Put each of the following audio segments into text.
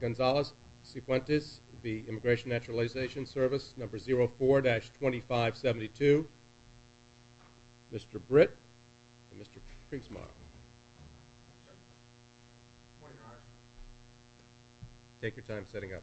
Gonzalez, Cifuentes v. INS 04-2572, Mr. Britt and Mr. Kriegsmaier. Take your time setting up.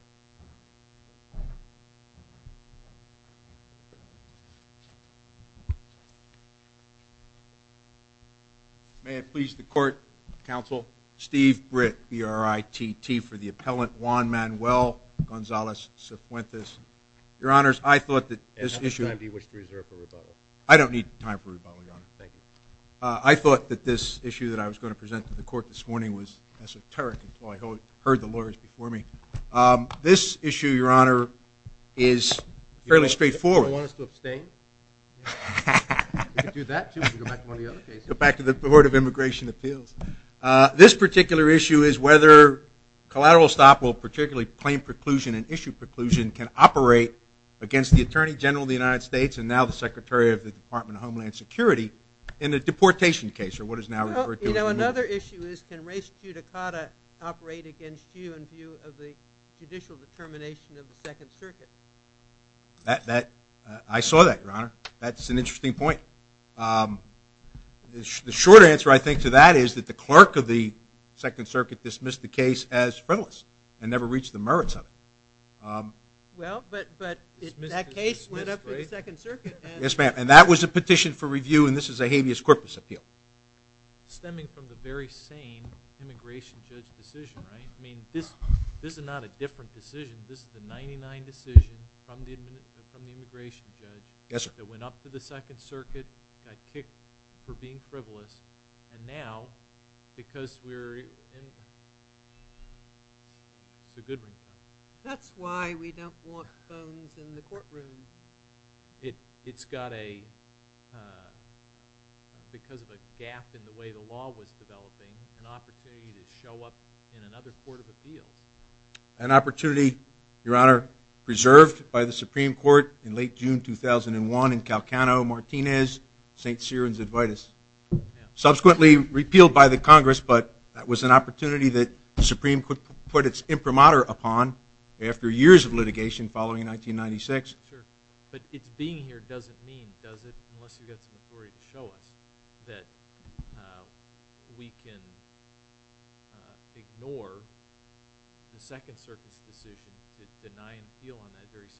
May it please the court, counsel, Steve Britt, B-R-I-T-T, for the appellant Juan Manuel Gonzalez Cifuentes. Your Honors, I thought that this issue... At this time, do you wish to reserve for rebuttal? I don't need time for rebuttal, Your Honor. Thank you. I thought that this issue that I was going to present to the court this morning was esoteric until I heard the lawyers before me. This issue, Your Honor, is fairly straightforward. Do you want us to abstain? We can do that too. We can go back to one of the other cases. Go back to the Board of Immigration Appeals. This particular issue is whether Collateral Stop will particularly claim preclusion and issue preclusion can operate against the Attorney General of the United States and now the Secretary of the Department of Homeland Security in a deportation case or what is now referred to as... Now, another issue is can Res Judicata operate against you in view of the judicial determination of the Second Circuit? I saw that, Your Honor. That's an interesting point. The short answer, I think, to that is that the clerk of the Second Circuit dismissed the case as frivolous and never reached the merits of it. Well, but that case went up in the Second Circuit. Yes, ma'am. And that was a petition for review and this is a habeas corpus appeal. Stemming from the very same immigration judge decision, right? I mean, this is not a different decision. This is the 99 decision from the immigration judge. Yes, sir. That went up to the Second Circuit, got kicked for being frivolous, and now because we're in... It's a good ringtone. That's why we don't walk phones in the courtroom. It's got a... Because of a gap in the way the law was developing, an opportunity to show up in another court of appeals. An opportunity, Your Honor, preserved by the Supreme Court in late June 2001 in Calcano, Martinez, St. Cyr and Zadvitas. Subsequently repealed by the Congress, but that was an opportunity that the Supreme Court put its imprimatur upon after years of litigation following 1996. Sure. But its being here doesn't mean, does it, unless you've got some authority to show us, that we can ignore the Second Circuit's decision to deny an appeal on that very same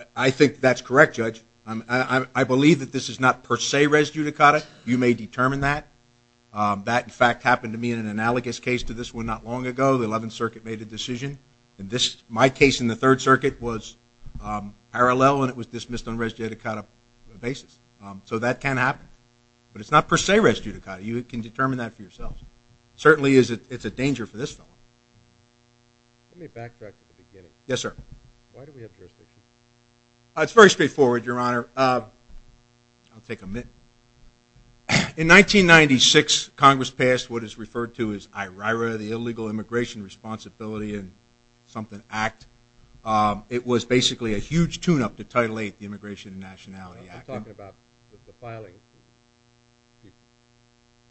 case. I think that's correct, Judge. I believe that this is not per se res judicata. You may determine that. That, in fact, happened to me in an analogous case to this one not long ago. The Eleventh Circuit made a decision. My case in the Third Circuit was parallel and it was dismissed on res judicata basis. So that can happen. But it's not per se res judicata. You can determine that for yourselves. Certainly it's a danger for this fellow. Let me backtrack to the beginning. Yes, sir. Why do we have jurisdiction? It's very straightforward, Your Honor. I'll take a minute. In 1996, Congress passed what is referred to as IRIRA, the Illegal Immigration Responsibility Act. It was basically a huge tune-up to Title VIII, the Immigration and Nationality Act. I'm talking about the filing.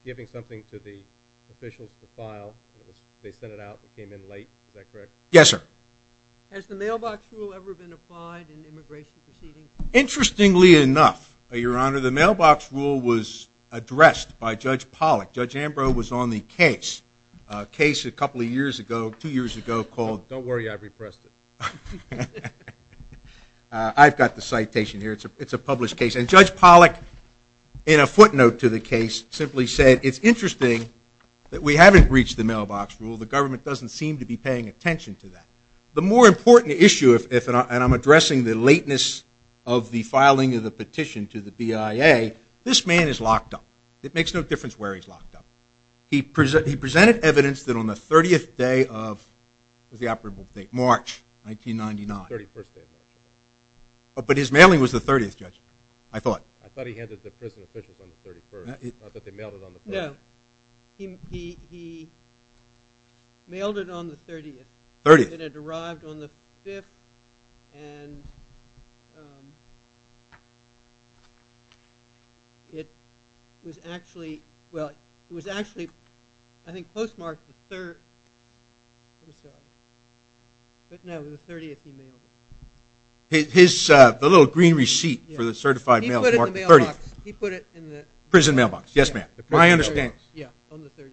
Giving something to the officials to file. They sent it out. It came in late. Is that correct? Yes, sir. Has the mailbox rule ever been applied in immigration proceedings? Interestingly enough, Your Honor, the mailbox rule was addressed by Judge Pollack. Judge Ambrose was on the case, a case a couple of years ago, two years ago, called Don't Worry, I've Repressed It. I've got the citation here. It's a published case. And Judge Pollack, in a footnote to the case, simply said it's interesting that we haven't reached the mailbox rule. The government doesn't seem to be paying attention to that. The more important issue, and I'm addressing the lateness of the filing of the petition to the BIA, this man is locked up. It makes no difference where he's locked up. He presented evidence that on the 30th day of the operable date, March 1999. The 31st day of March. But his mailing was the 30th, Judge. I thought. I thought he handed it to prison officials on the 31st. Not that they mailed it on the 30th. No. He mailed it on the 30th. 30th. It had arrived on the 5th. And it was actually, well, it was actually, I think, postmarked the 3rd. But no, the 30th he mailed it. The little green receipt for the certified mail. He put it in the mailbox. Prison mailbox. Yes, ma'am. I understand. Yeah, on the 30th.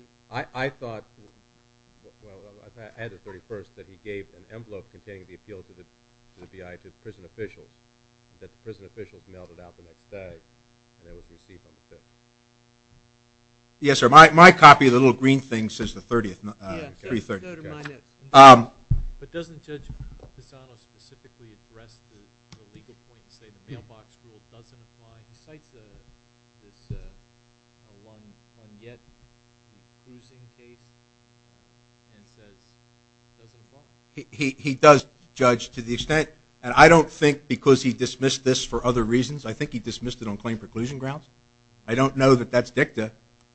I thought, well, I had it the 31st, that he gave an envelope containing the appeal to the BIA to the prison officials, that the prison officials mailed it out the next day, and it was received on the 5th. Yes, sir. My copy of the little green thing says the 30th. Yeah, go to my notes. But doesn't Judge Pisano specifically address the legal point and say the mailbox rule doesn't apply? He cites this one yet cruising case and says it doesn't apply. He does, Judge, to the extent, and I don't think because he dismissed this for other reasons. I think he dismissed it on claim preclusion grounds. I don't know that that's dicta.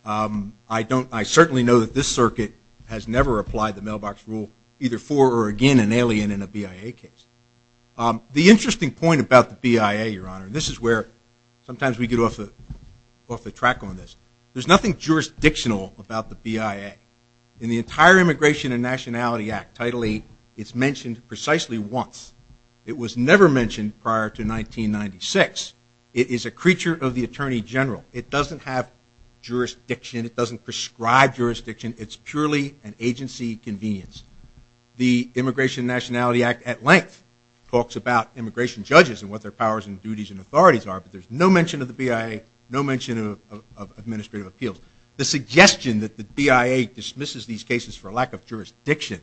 I certainly know that this circuit has never applied the mailbox rule either for or again in alien in a BIA case. The interesting point about the BIA, Your Honor, and this is where sometimes we get off the track on this, there's nothing jurisdictional about the BIA. In the entire Immigration and Nationality Act, Title VIII, it's mentioned precisely once. It was never mentioned prior to 1996. It is a creature of the Attorney General. It doesn't have jurisdiction. It doesn't prescribe jurisdiction. It's purely an agency convenience. The Immigration and Nationality Act at length talks about immigration judges and what their powers and duties and authorities are, but there's no mention of the BIA, no mention of administrative appeals. The suggestion that the BIA dismisses these cases for lack of jurisdiction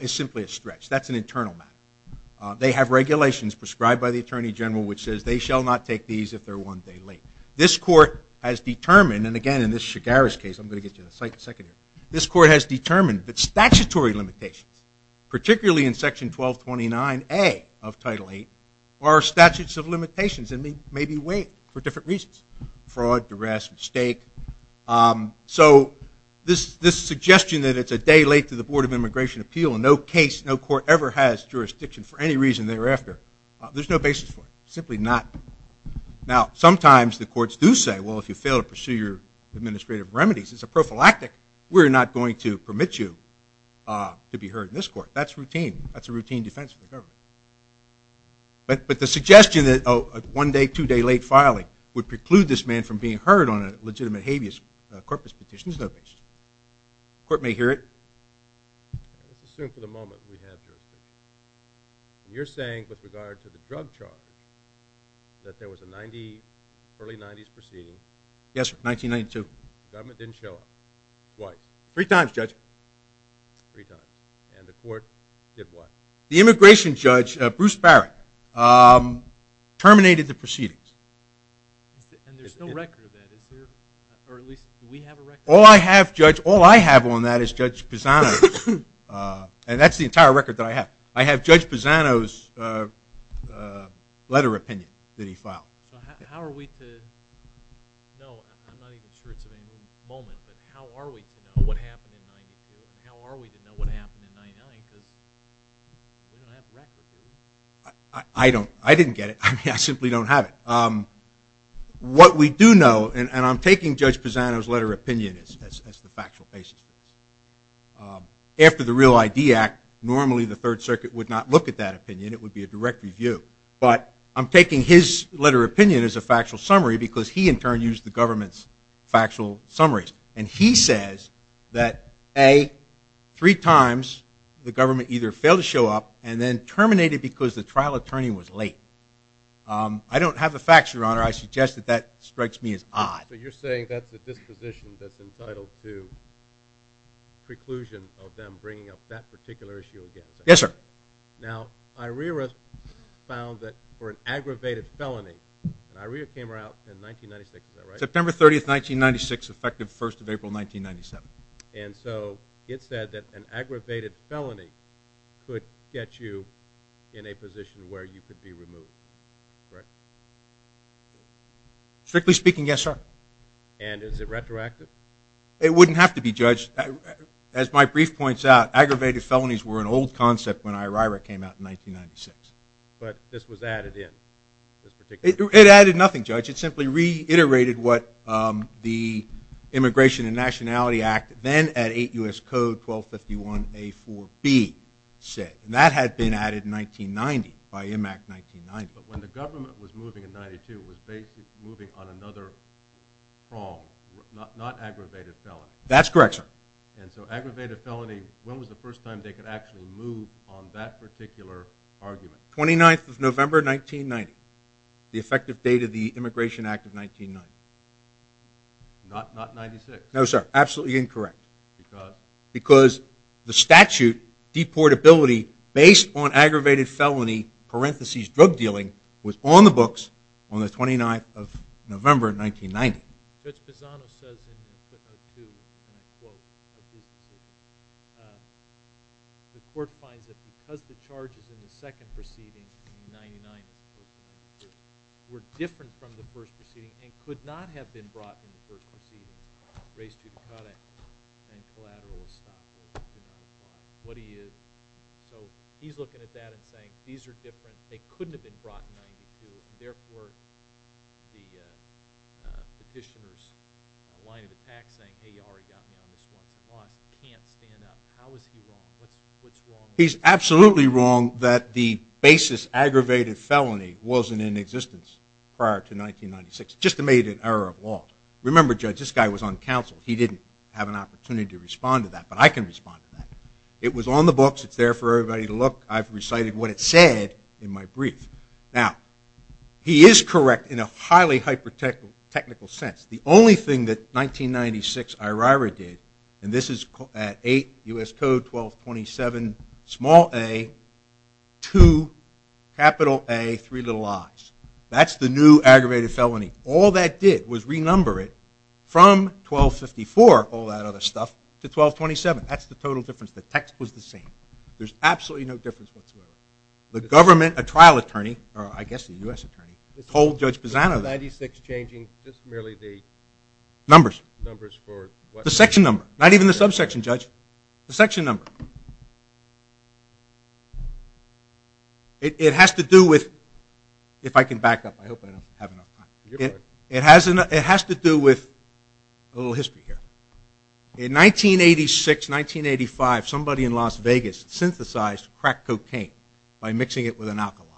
is simply a stretch. That's an internal matter. They have regulations prescribed by the Attorney General which says they shall not take these if they're one day late. This court has determined, and again in this Chigaris case, I'm going to get to that in a second here, this court has determined that statutory limitations, particularly in Section 1229A of Title VIII, are statutes of limitations and may be waived for different reasons, fraud, duress, mistake. So this suggestion that it's a day late to the Board of Immigration Appeal, no case, no court ever has jurisdiction for any reason thereafter, there's no basis for it, simply not. Now, sometimes the courts do say, well, if you fail to pursue your administrative remedies, it's a prophylactic. We're not going to permit you to be heard in this court. That's routine. That's a routine defense for the government. But the suggestion that a one-day, two-day late filing would preclude this man from being heard on a legitimate habeas corpus petition is no basis. The court may hear it. Let's assume for the moment we have jurisdiction. You're saying with regard to the drug charge that there was an early 90s proceeding. Yes, sir, 1992. The government didn't show up. Twice. Three times, Judge. Three times. And the court did what? The immigration judge, Bruce Barrett, terminated the proceedings. And there's no record of that, is there? Or at least do we have a record? All I have, Judge, all I have on that is Judge Pisano's, and that's the entire record that I have. I have Judge Pisano's letter of opinion that he filed. So how are we to know? I'm not even sure it's a moment, but how are we to know what happened in 1992? How are we to know what happened in 1999? Because we don't have record, do we? I didn't get it. I simply don't have it. What we do know, and I'm taking Judge Pisano's letter of opinion as the factual basis. After the Real ID Act, normally the Third Circuit would not look at that opinion. It would be a direct review. But I'm taking his letter of opinion as a factual summary because he, in turn, used the government's factual summaries. And he says that, A, three times the government either failed to show up and then terminated because the trial attorney was late. I don't have the facts, Your Honor. I suggest that that strikes me as odd. So you're saying that's a disposition that's entitled to preclusion of them bringing up that particular issue again. Yes, sir. Okay. Now, IRERA found that for an aggravated felony, and IRERA came out in 1996, is that right? September 30th, 1996, effective 1st of April, 1997. And so it said that an aggravated felony could get you in a position where you could be removed. Correct? Strictly speaking, yes, sir. And is it retroactive? It wouldn't have to be, Judge. As my brief points out, aggravated felonies were an old concept when IRERA came out in 1996. But this was added in, this particular case? It added nothing, Judge. It simply reiterated what the Immigration and Nationality Act, then at 8 U.S. Code 1251A4B, said. And that had been added in 1990 by IMAC 1990. But when the government was moving in 92, it was basically moving on another prong, not aggravated felony. That's correct, sir. And so aggravated felony, when was the first time they could actually move on that particular argument? 29th of November, 1990, the effective date of the Immigration Act of 1990. Not 96? No, sir, absolutely incorrect. Because? Because the statute, deportability, based on aggravated felony, parentheses drug dealing, was on the books on the 29th of November, 1990. Judge Pisano says in footnote 2, in a quote of his decision, the court finds that because the charges in the second proceeding, in 99, were different from the first proceeding and could not have been brought in the first proceeding, race judicata and collateral estoppel, what he is. So he's looking at that and saying these are different. They couldn't have been brought in 92. Therefore, the petitioner's line of attack saying, hey, you already got me on this once and lost, can't stand up. How is he wrong? What's wrong? He's absolutely wrong that the basis aggravated felony wasn't in existence prior to 1996, just to make it an error of law. Remember, Judge, this guy was on counsel. He didn't have an opportunity to respond to that, but I can respond to that. It was on the books. It's there for everybody to look. I've recited what it said in my brief. Now, he is correct in a highly hyper-technical sense. The only thing that 1996 IRIRA did, and this is at 8 U.S. Code 1227, small a, 2, capital A, three little i's. That's the new aggravated felony. All that did was renumber it from 1254, all that other stuff, to 1227. That's the total difference. The text was the same. There's absolutely no difference whatsoever. The government, a trial attorney, or I guess a U.S. attorney, told Judge Pisano that. Was 1996 changing just merely the numbers for what? The section number, not even the subsection, Judge. The section number. It has to do with, if I can back up. I hope I don't have enough time. It has to do with a little history here. In 1986, 1985, somebody in Las Vegas synthesized crack cocaine by mixing it with an alkali.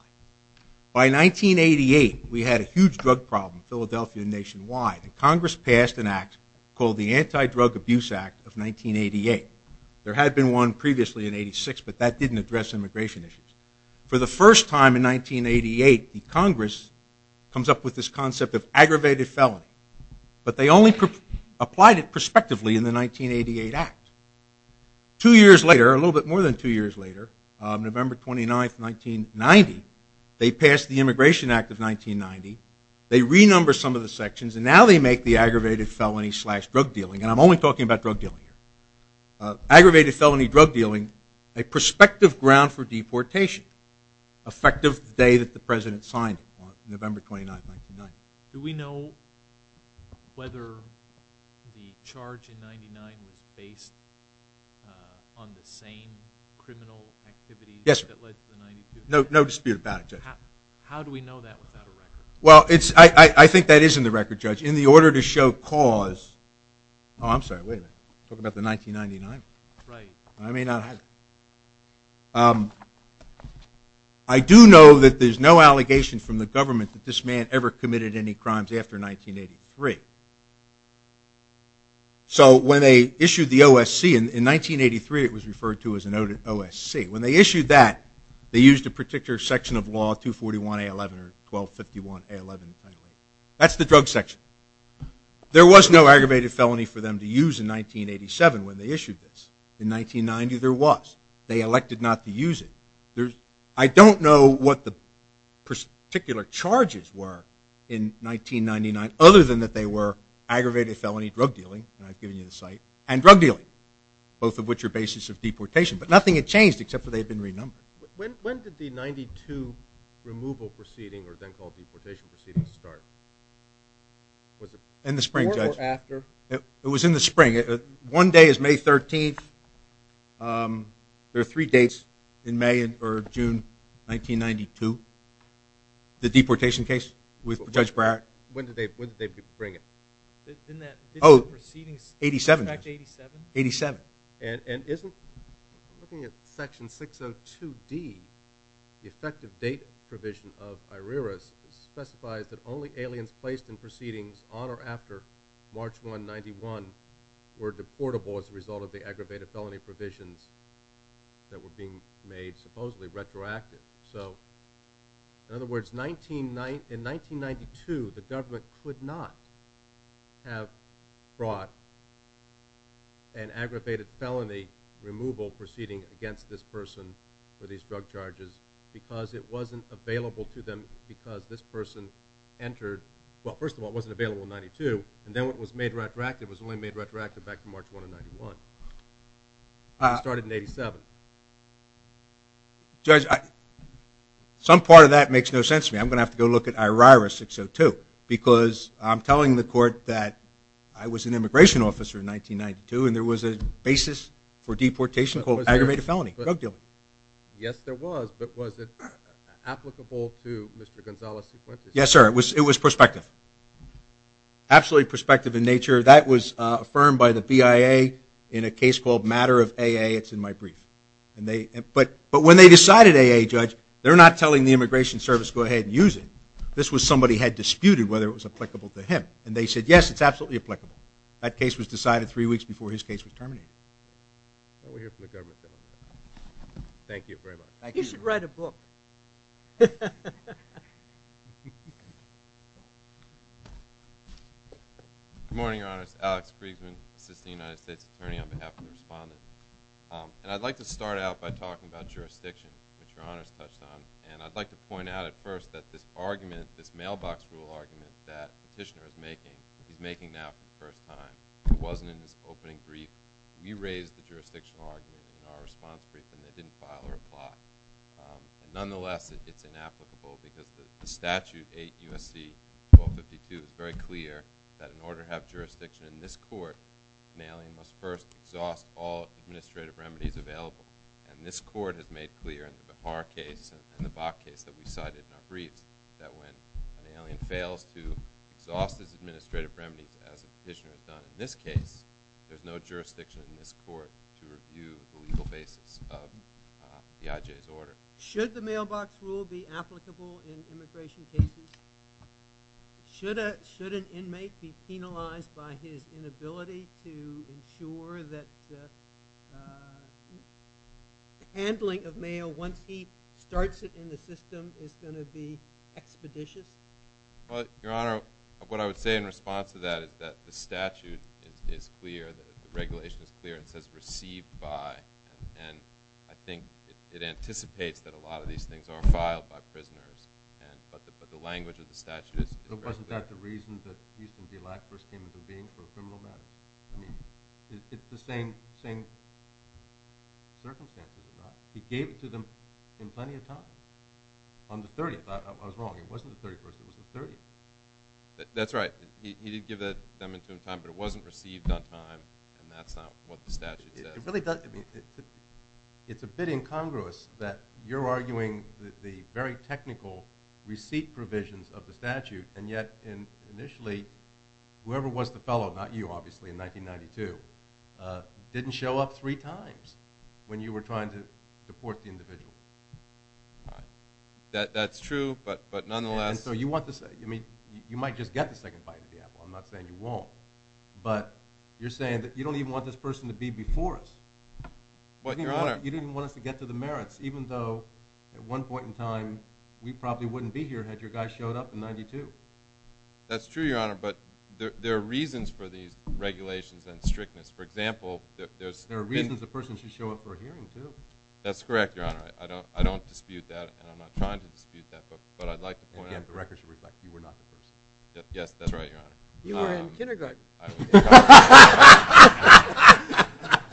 By 1988, we had a huge drug problem in Philadelphia and nationwide, and Congress passed an act called the Anti-Drug Abuse Act of 1988. There had been one previously in 86, but that didn't address immigration issues. For the first time in 1988, the Congress comes up with this concept of aggravated felony, but they only applied it prospectively in the 1988 act. Two years later, a little bit more than two years later, November 29, 1990, they passed the Immigration Act of 1990. They renumber some of the sections, and now they make the aggravated felony slash drug dealing, and I'm only talking about drug dealing here. Aggravated felony drug dealing, a prospective ground for deportation, effective the day that the President signed it, November 29, 1990. Do we know whether the charge in 99 was based on the same criminal activity that led to the 92? No dispute about it, Judge. How do we know that without a record? Well, I think that is in the record, Judge. In the order to show cause, oh, I'm sorry, wait a minute. Talk about the 1999. I may not have it. I do know that there's no allegation from the government that this man ever committed any crimes after 1983. So when they issued the OSC in 1983, it was referred to as an OSC. When they issued that, they used a particular section of law, 241A11 or 1251A11. That's the drug section. There was no aggravated felony for them to use in 1987 when they issued this. In 1990, there was. They elected not to use it. I don't know what the particular charges were in 1999 other than that they were aggravated felony drug dealing, and I've given you the site, and drug dealing, both of which are basis of deportation. But nothing had changed except for they had been renumbered. When did the 92 removal proceeding, or then called deportation proceeding, start? In the spring, Judge. Before or after? It was in the spring. One day is May 13th. There are three dates in May or June 1992. The deportation case with Judge Brack. When did they bring it? In fact, 87? 87. And isn't, looking at section 602D, the effective date provision of I.R.E.R.A.'s specifies that only aliens placed in proceedings on or after March 1, 1991 were deportable as a result of the aggravated felony provisions that were being made supposedly retroactive. So, in other words, in 1992, the government could not have brought an aggravated felony removal proceeding against this person for these drug charges because it wasn't available to them because this person entered, well, first of all, it wasn't available in 92, and then when it was made retroactive, it was only made retroactive back from March 1 of 91. It started in 87. Judge, some part of that makes no sense to me. I'm going to have to go look at I.R.E.R.A. 602 because I'm telling the court that I was an immigration officer in 1992 and there was a basis for deportation called aggravated felony, drug dealing. Yes, there was, but was it applicable to Mr. Gonzales' sequence? Yes, sir, it was prospective. Absolutely prospective in nature. That was affirmed by the BIA in a case called Matter of AA. It's in my brief. But when they decided AA, Judge, they're not telling the Immigration Service go ahead and use it. This was somebody who had disputed whether it was applicable to him, and they said, yes, it's absolutely applicable. That case was decided three weeks before his case was terminated. We're here for the government. Thank you very much. You should write a book. Good morning, Your Honors. Alex Kriegsman, Assistant United States Attorney on behalf of the respondents. And I'd like to start out by talking about jurisdiction, which Your Honors touched on. And I'd like to point out at first that this argument, this mailbox rule argument that Petitioner is making, he's making now for the first time. It wasn't in his opening brief. We raised the jurisdictional argument in our response brief, and they didn't file or apply. Nonetheless, it's inapplicable because the statute, 8 U.S.C. 1252, is very clear that in order to have jurisdiction in this court, an alien must first exhaust all administrative remedies available. And this court has made clear in our case and the Bach case that we cited in our briefs that when an alien fails to exhaust his administrative remedies, as Petitioner has done in this case, there's no jurisdiction in this court to review the legal basis of the IJ's order. Should the mailbox rule be applicable in immigration cases? Should an inmate be penalized by his inability to ensure that the handling of mail, once he starts it in the system, is going to be expeditious? Well, Your Honor, what I would say in response to that is that the statute is clear, the regulation is clear, it says received by, and I think it anticipates that a lot of these things are filed by prisoners, but the language of the statute is very clear. But wasn't that the reason that Houston D. Lack first came into being for a criminal matter? I mean, it's the same circumstances, right? He gave it to them in plenty of time. On the 30th, I was wrong, it wasn't the 31st, it was the 30th. That's right, he did give it to them in time, but it wasn't received on time, and that's not what the statute says. It really doesn't. It's a bit incongruous that you're arguing the very technical receipt provisions of the statute, and yet initially, whoever was the fellow, not you, obviously, in 1992, didn't show up three times when you were trying to deport the individual. That's true, but nonetheless... And so you want to say, I mean, you might just get the second bite of the apple, I'm not saying you won't, but you're saying that you don't even want this person to be before us. You didn't even want us to get to the merits, even though at one point in time we probably wouldn't be here had your guy showed up in 1992. That's true, Your Honor, but there are reasons for these regulations and strictness. For example, there's... There are reasons a person should show up for a hearing, too. That's correct, Your Honor. I don't dispute that, and I'm not trying to dispute that, but I'd like to point out... And again, the record should reflect you were not the person. Yes, that's right, Your Honor. You were in kindergarten.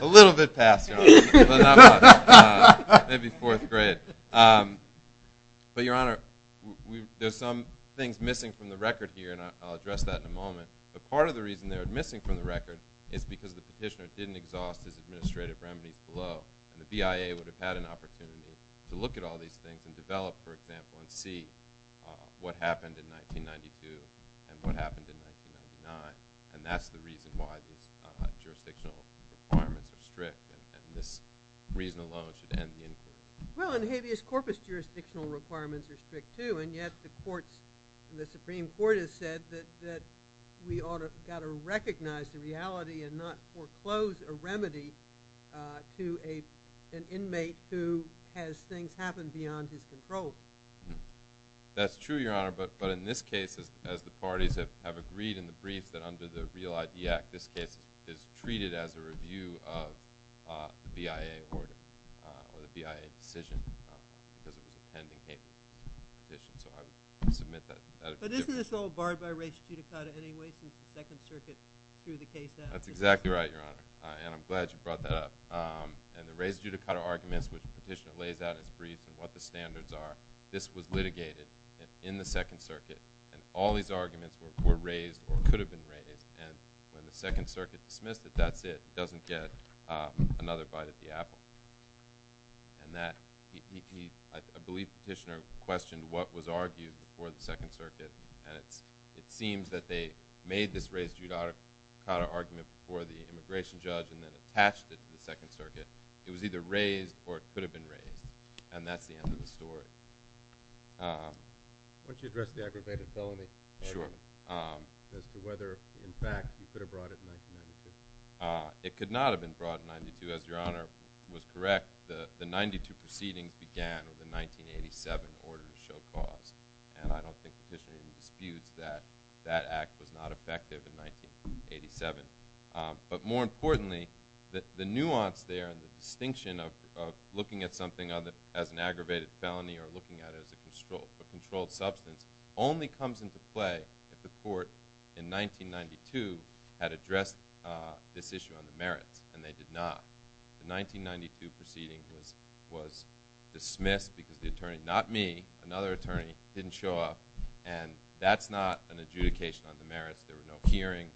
A little bit past, Your Honor, but not much. Maybe fourth grade. But, Your Honor, there's some things missing from the record here, and I'll address that in a moment. But part of the reason they're missing from the record is because the petitioner didn't exhaust his administrative remedies below, and the BIA would have had an opportunity to look at all these things and develop, for example, and see what happened in 1992 and what happened in 1999. And that's the reason why these jurisdictional requirements are strict, and this reason alone should end the inquiry. Well, and habeas corpus jurisdictional requirements are strict, too, and yet the Supreme Court has said that we ought to recognize the reality and not foreclose a remedy to an inmate who has things happen beyond his control. That's true, Your Honor, but in this case, as the parties have agreed in the brief, this case is treated as a review of the BIA order or the BIA decision because it was a pending habeas corpus petition, so I would submit that. But isn't this all barred by res judicata anyway since the Second Circuit threw the case out? That's exactly right, Your Honor, and I'm glad you brought that up. And the res judicata arguments, which the petitioner lays out in his brief and what the standards are, this was litigated in the Second Circuit, and all these arguments were raised or could have been raised, and when the Second Circuit dismissed it, that's it. It doesn't get another bite at the apple. And I believe the petitioner questioned what was argued before the Second Circuit, and it seems that they made this res judicata argument before the immigration judge and then attached it to the Second Circuit. It was either raised or it could have been raised, and that's the end of the story. Why don't you address the aggravated felony argument as to whether, in fact, you could have brought it in 1992? It could not have been brought in 1992. As Your Honor was correct, the 92 proceedings began with the 1987 order to show cause, and I don't think the petitioner disputes that that act was not effective in 1987. But more importantly, the nuance there and the distinction of looking at something as an aggravated felony or looking at it as a controlled substance only comes into play if the court in 1992 had addressed this issue on the merits, and they did not. The 1992 proceeding was dismissed because the attorney, not me, another attorney, didn't show up, and that's not an adjudication on the merits. There was no hearing.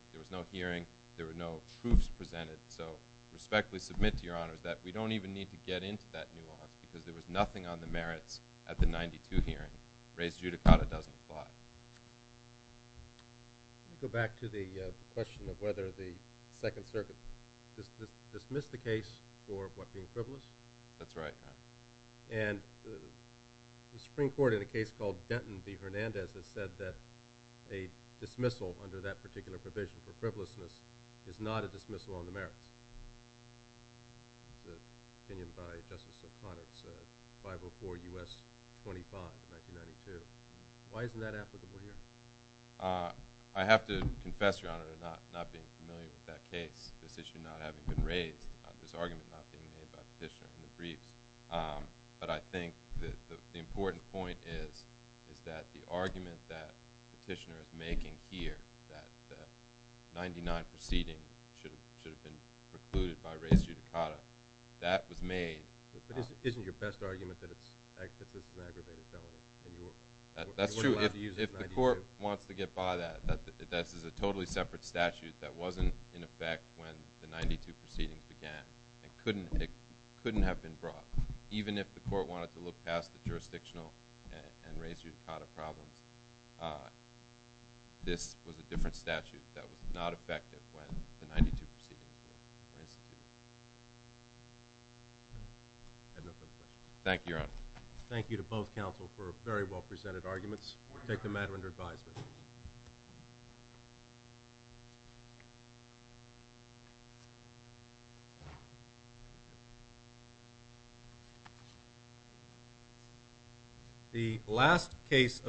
There were no truths presented. So respectfully submit to Your Honors that we don't even need to get into that nuance because there was nothing on the merits at the 92 hearing. Raised judicata doesn't apply. Let me go back to the question of whether the Second Circuit dismissed the case for what being frivolous. That's right. And the Supreme Court, in a case called Denton v. Hernandez, has said that a dismissal under that particular provision for frivolousness is not a dismissal on the merits. It's an opinion by Justice O'Connor. It's 504 U.S. 25 of 1992. Why isn't that applicable here? I have to confess, Your Honor, to not being familiar with that case, this issue not having been raised, this argument not being made by Petitioner in the briefs. But I think the important point is that the argument that Petitioner is making here, that the 99 proceeding should have been precluded by raised judicata, that was made. But isn't your best argument that this is an aggravated felony? That's true. If the court wants to get by that, that is a totally separate statute that wasn't in effect when the 92 proceeding began. It couldn't have been brought. Even if the court wanted to look past the jurisdictional and raised judicata problems, this was a different statute that was not effective when the 92 proceeding began. I have no further questions. Thank you, Your Honor. Thank you to both counsel for very well presented arguments. We'll take the matter under advisement. Thank you.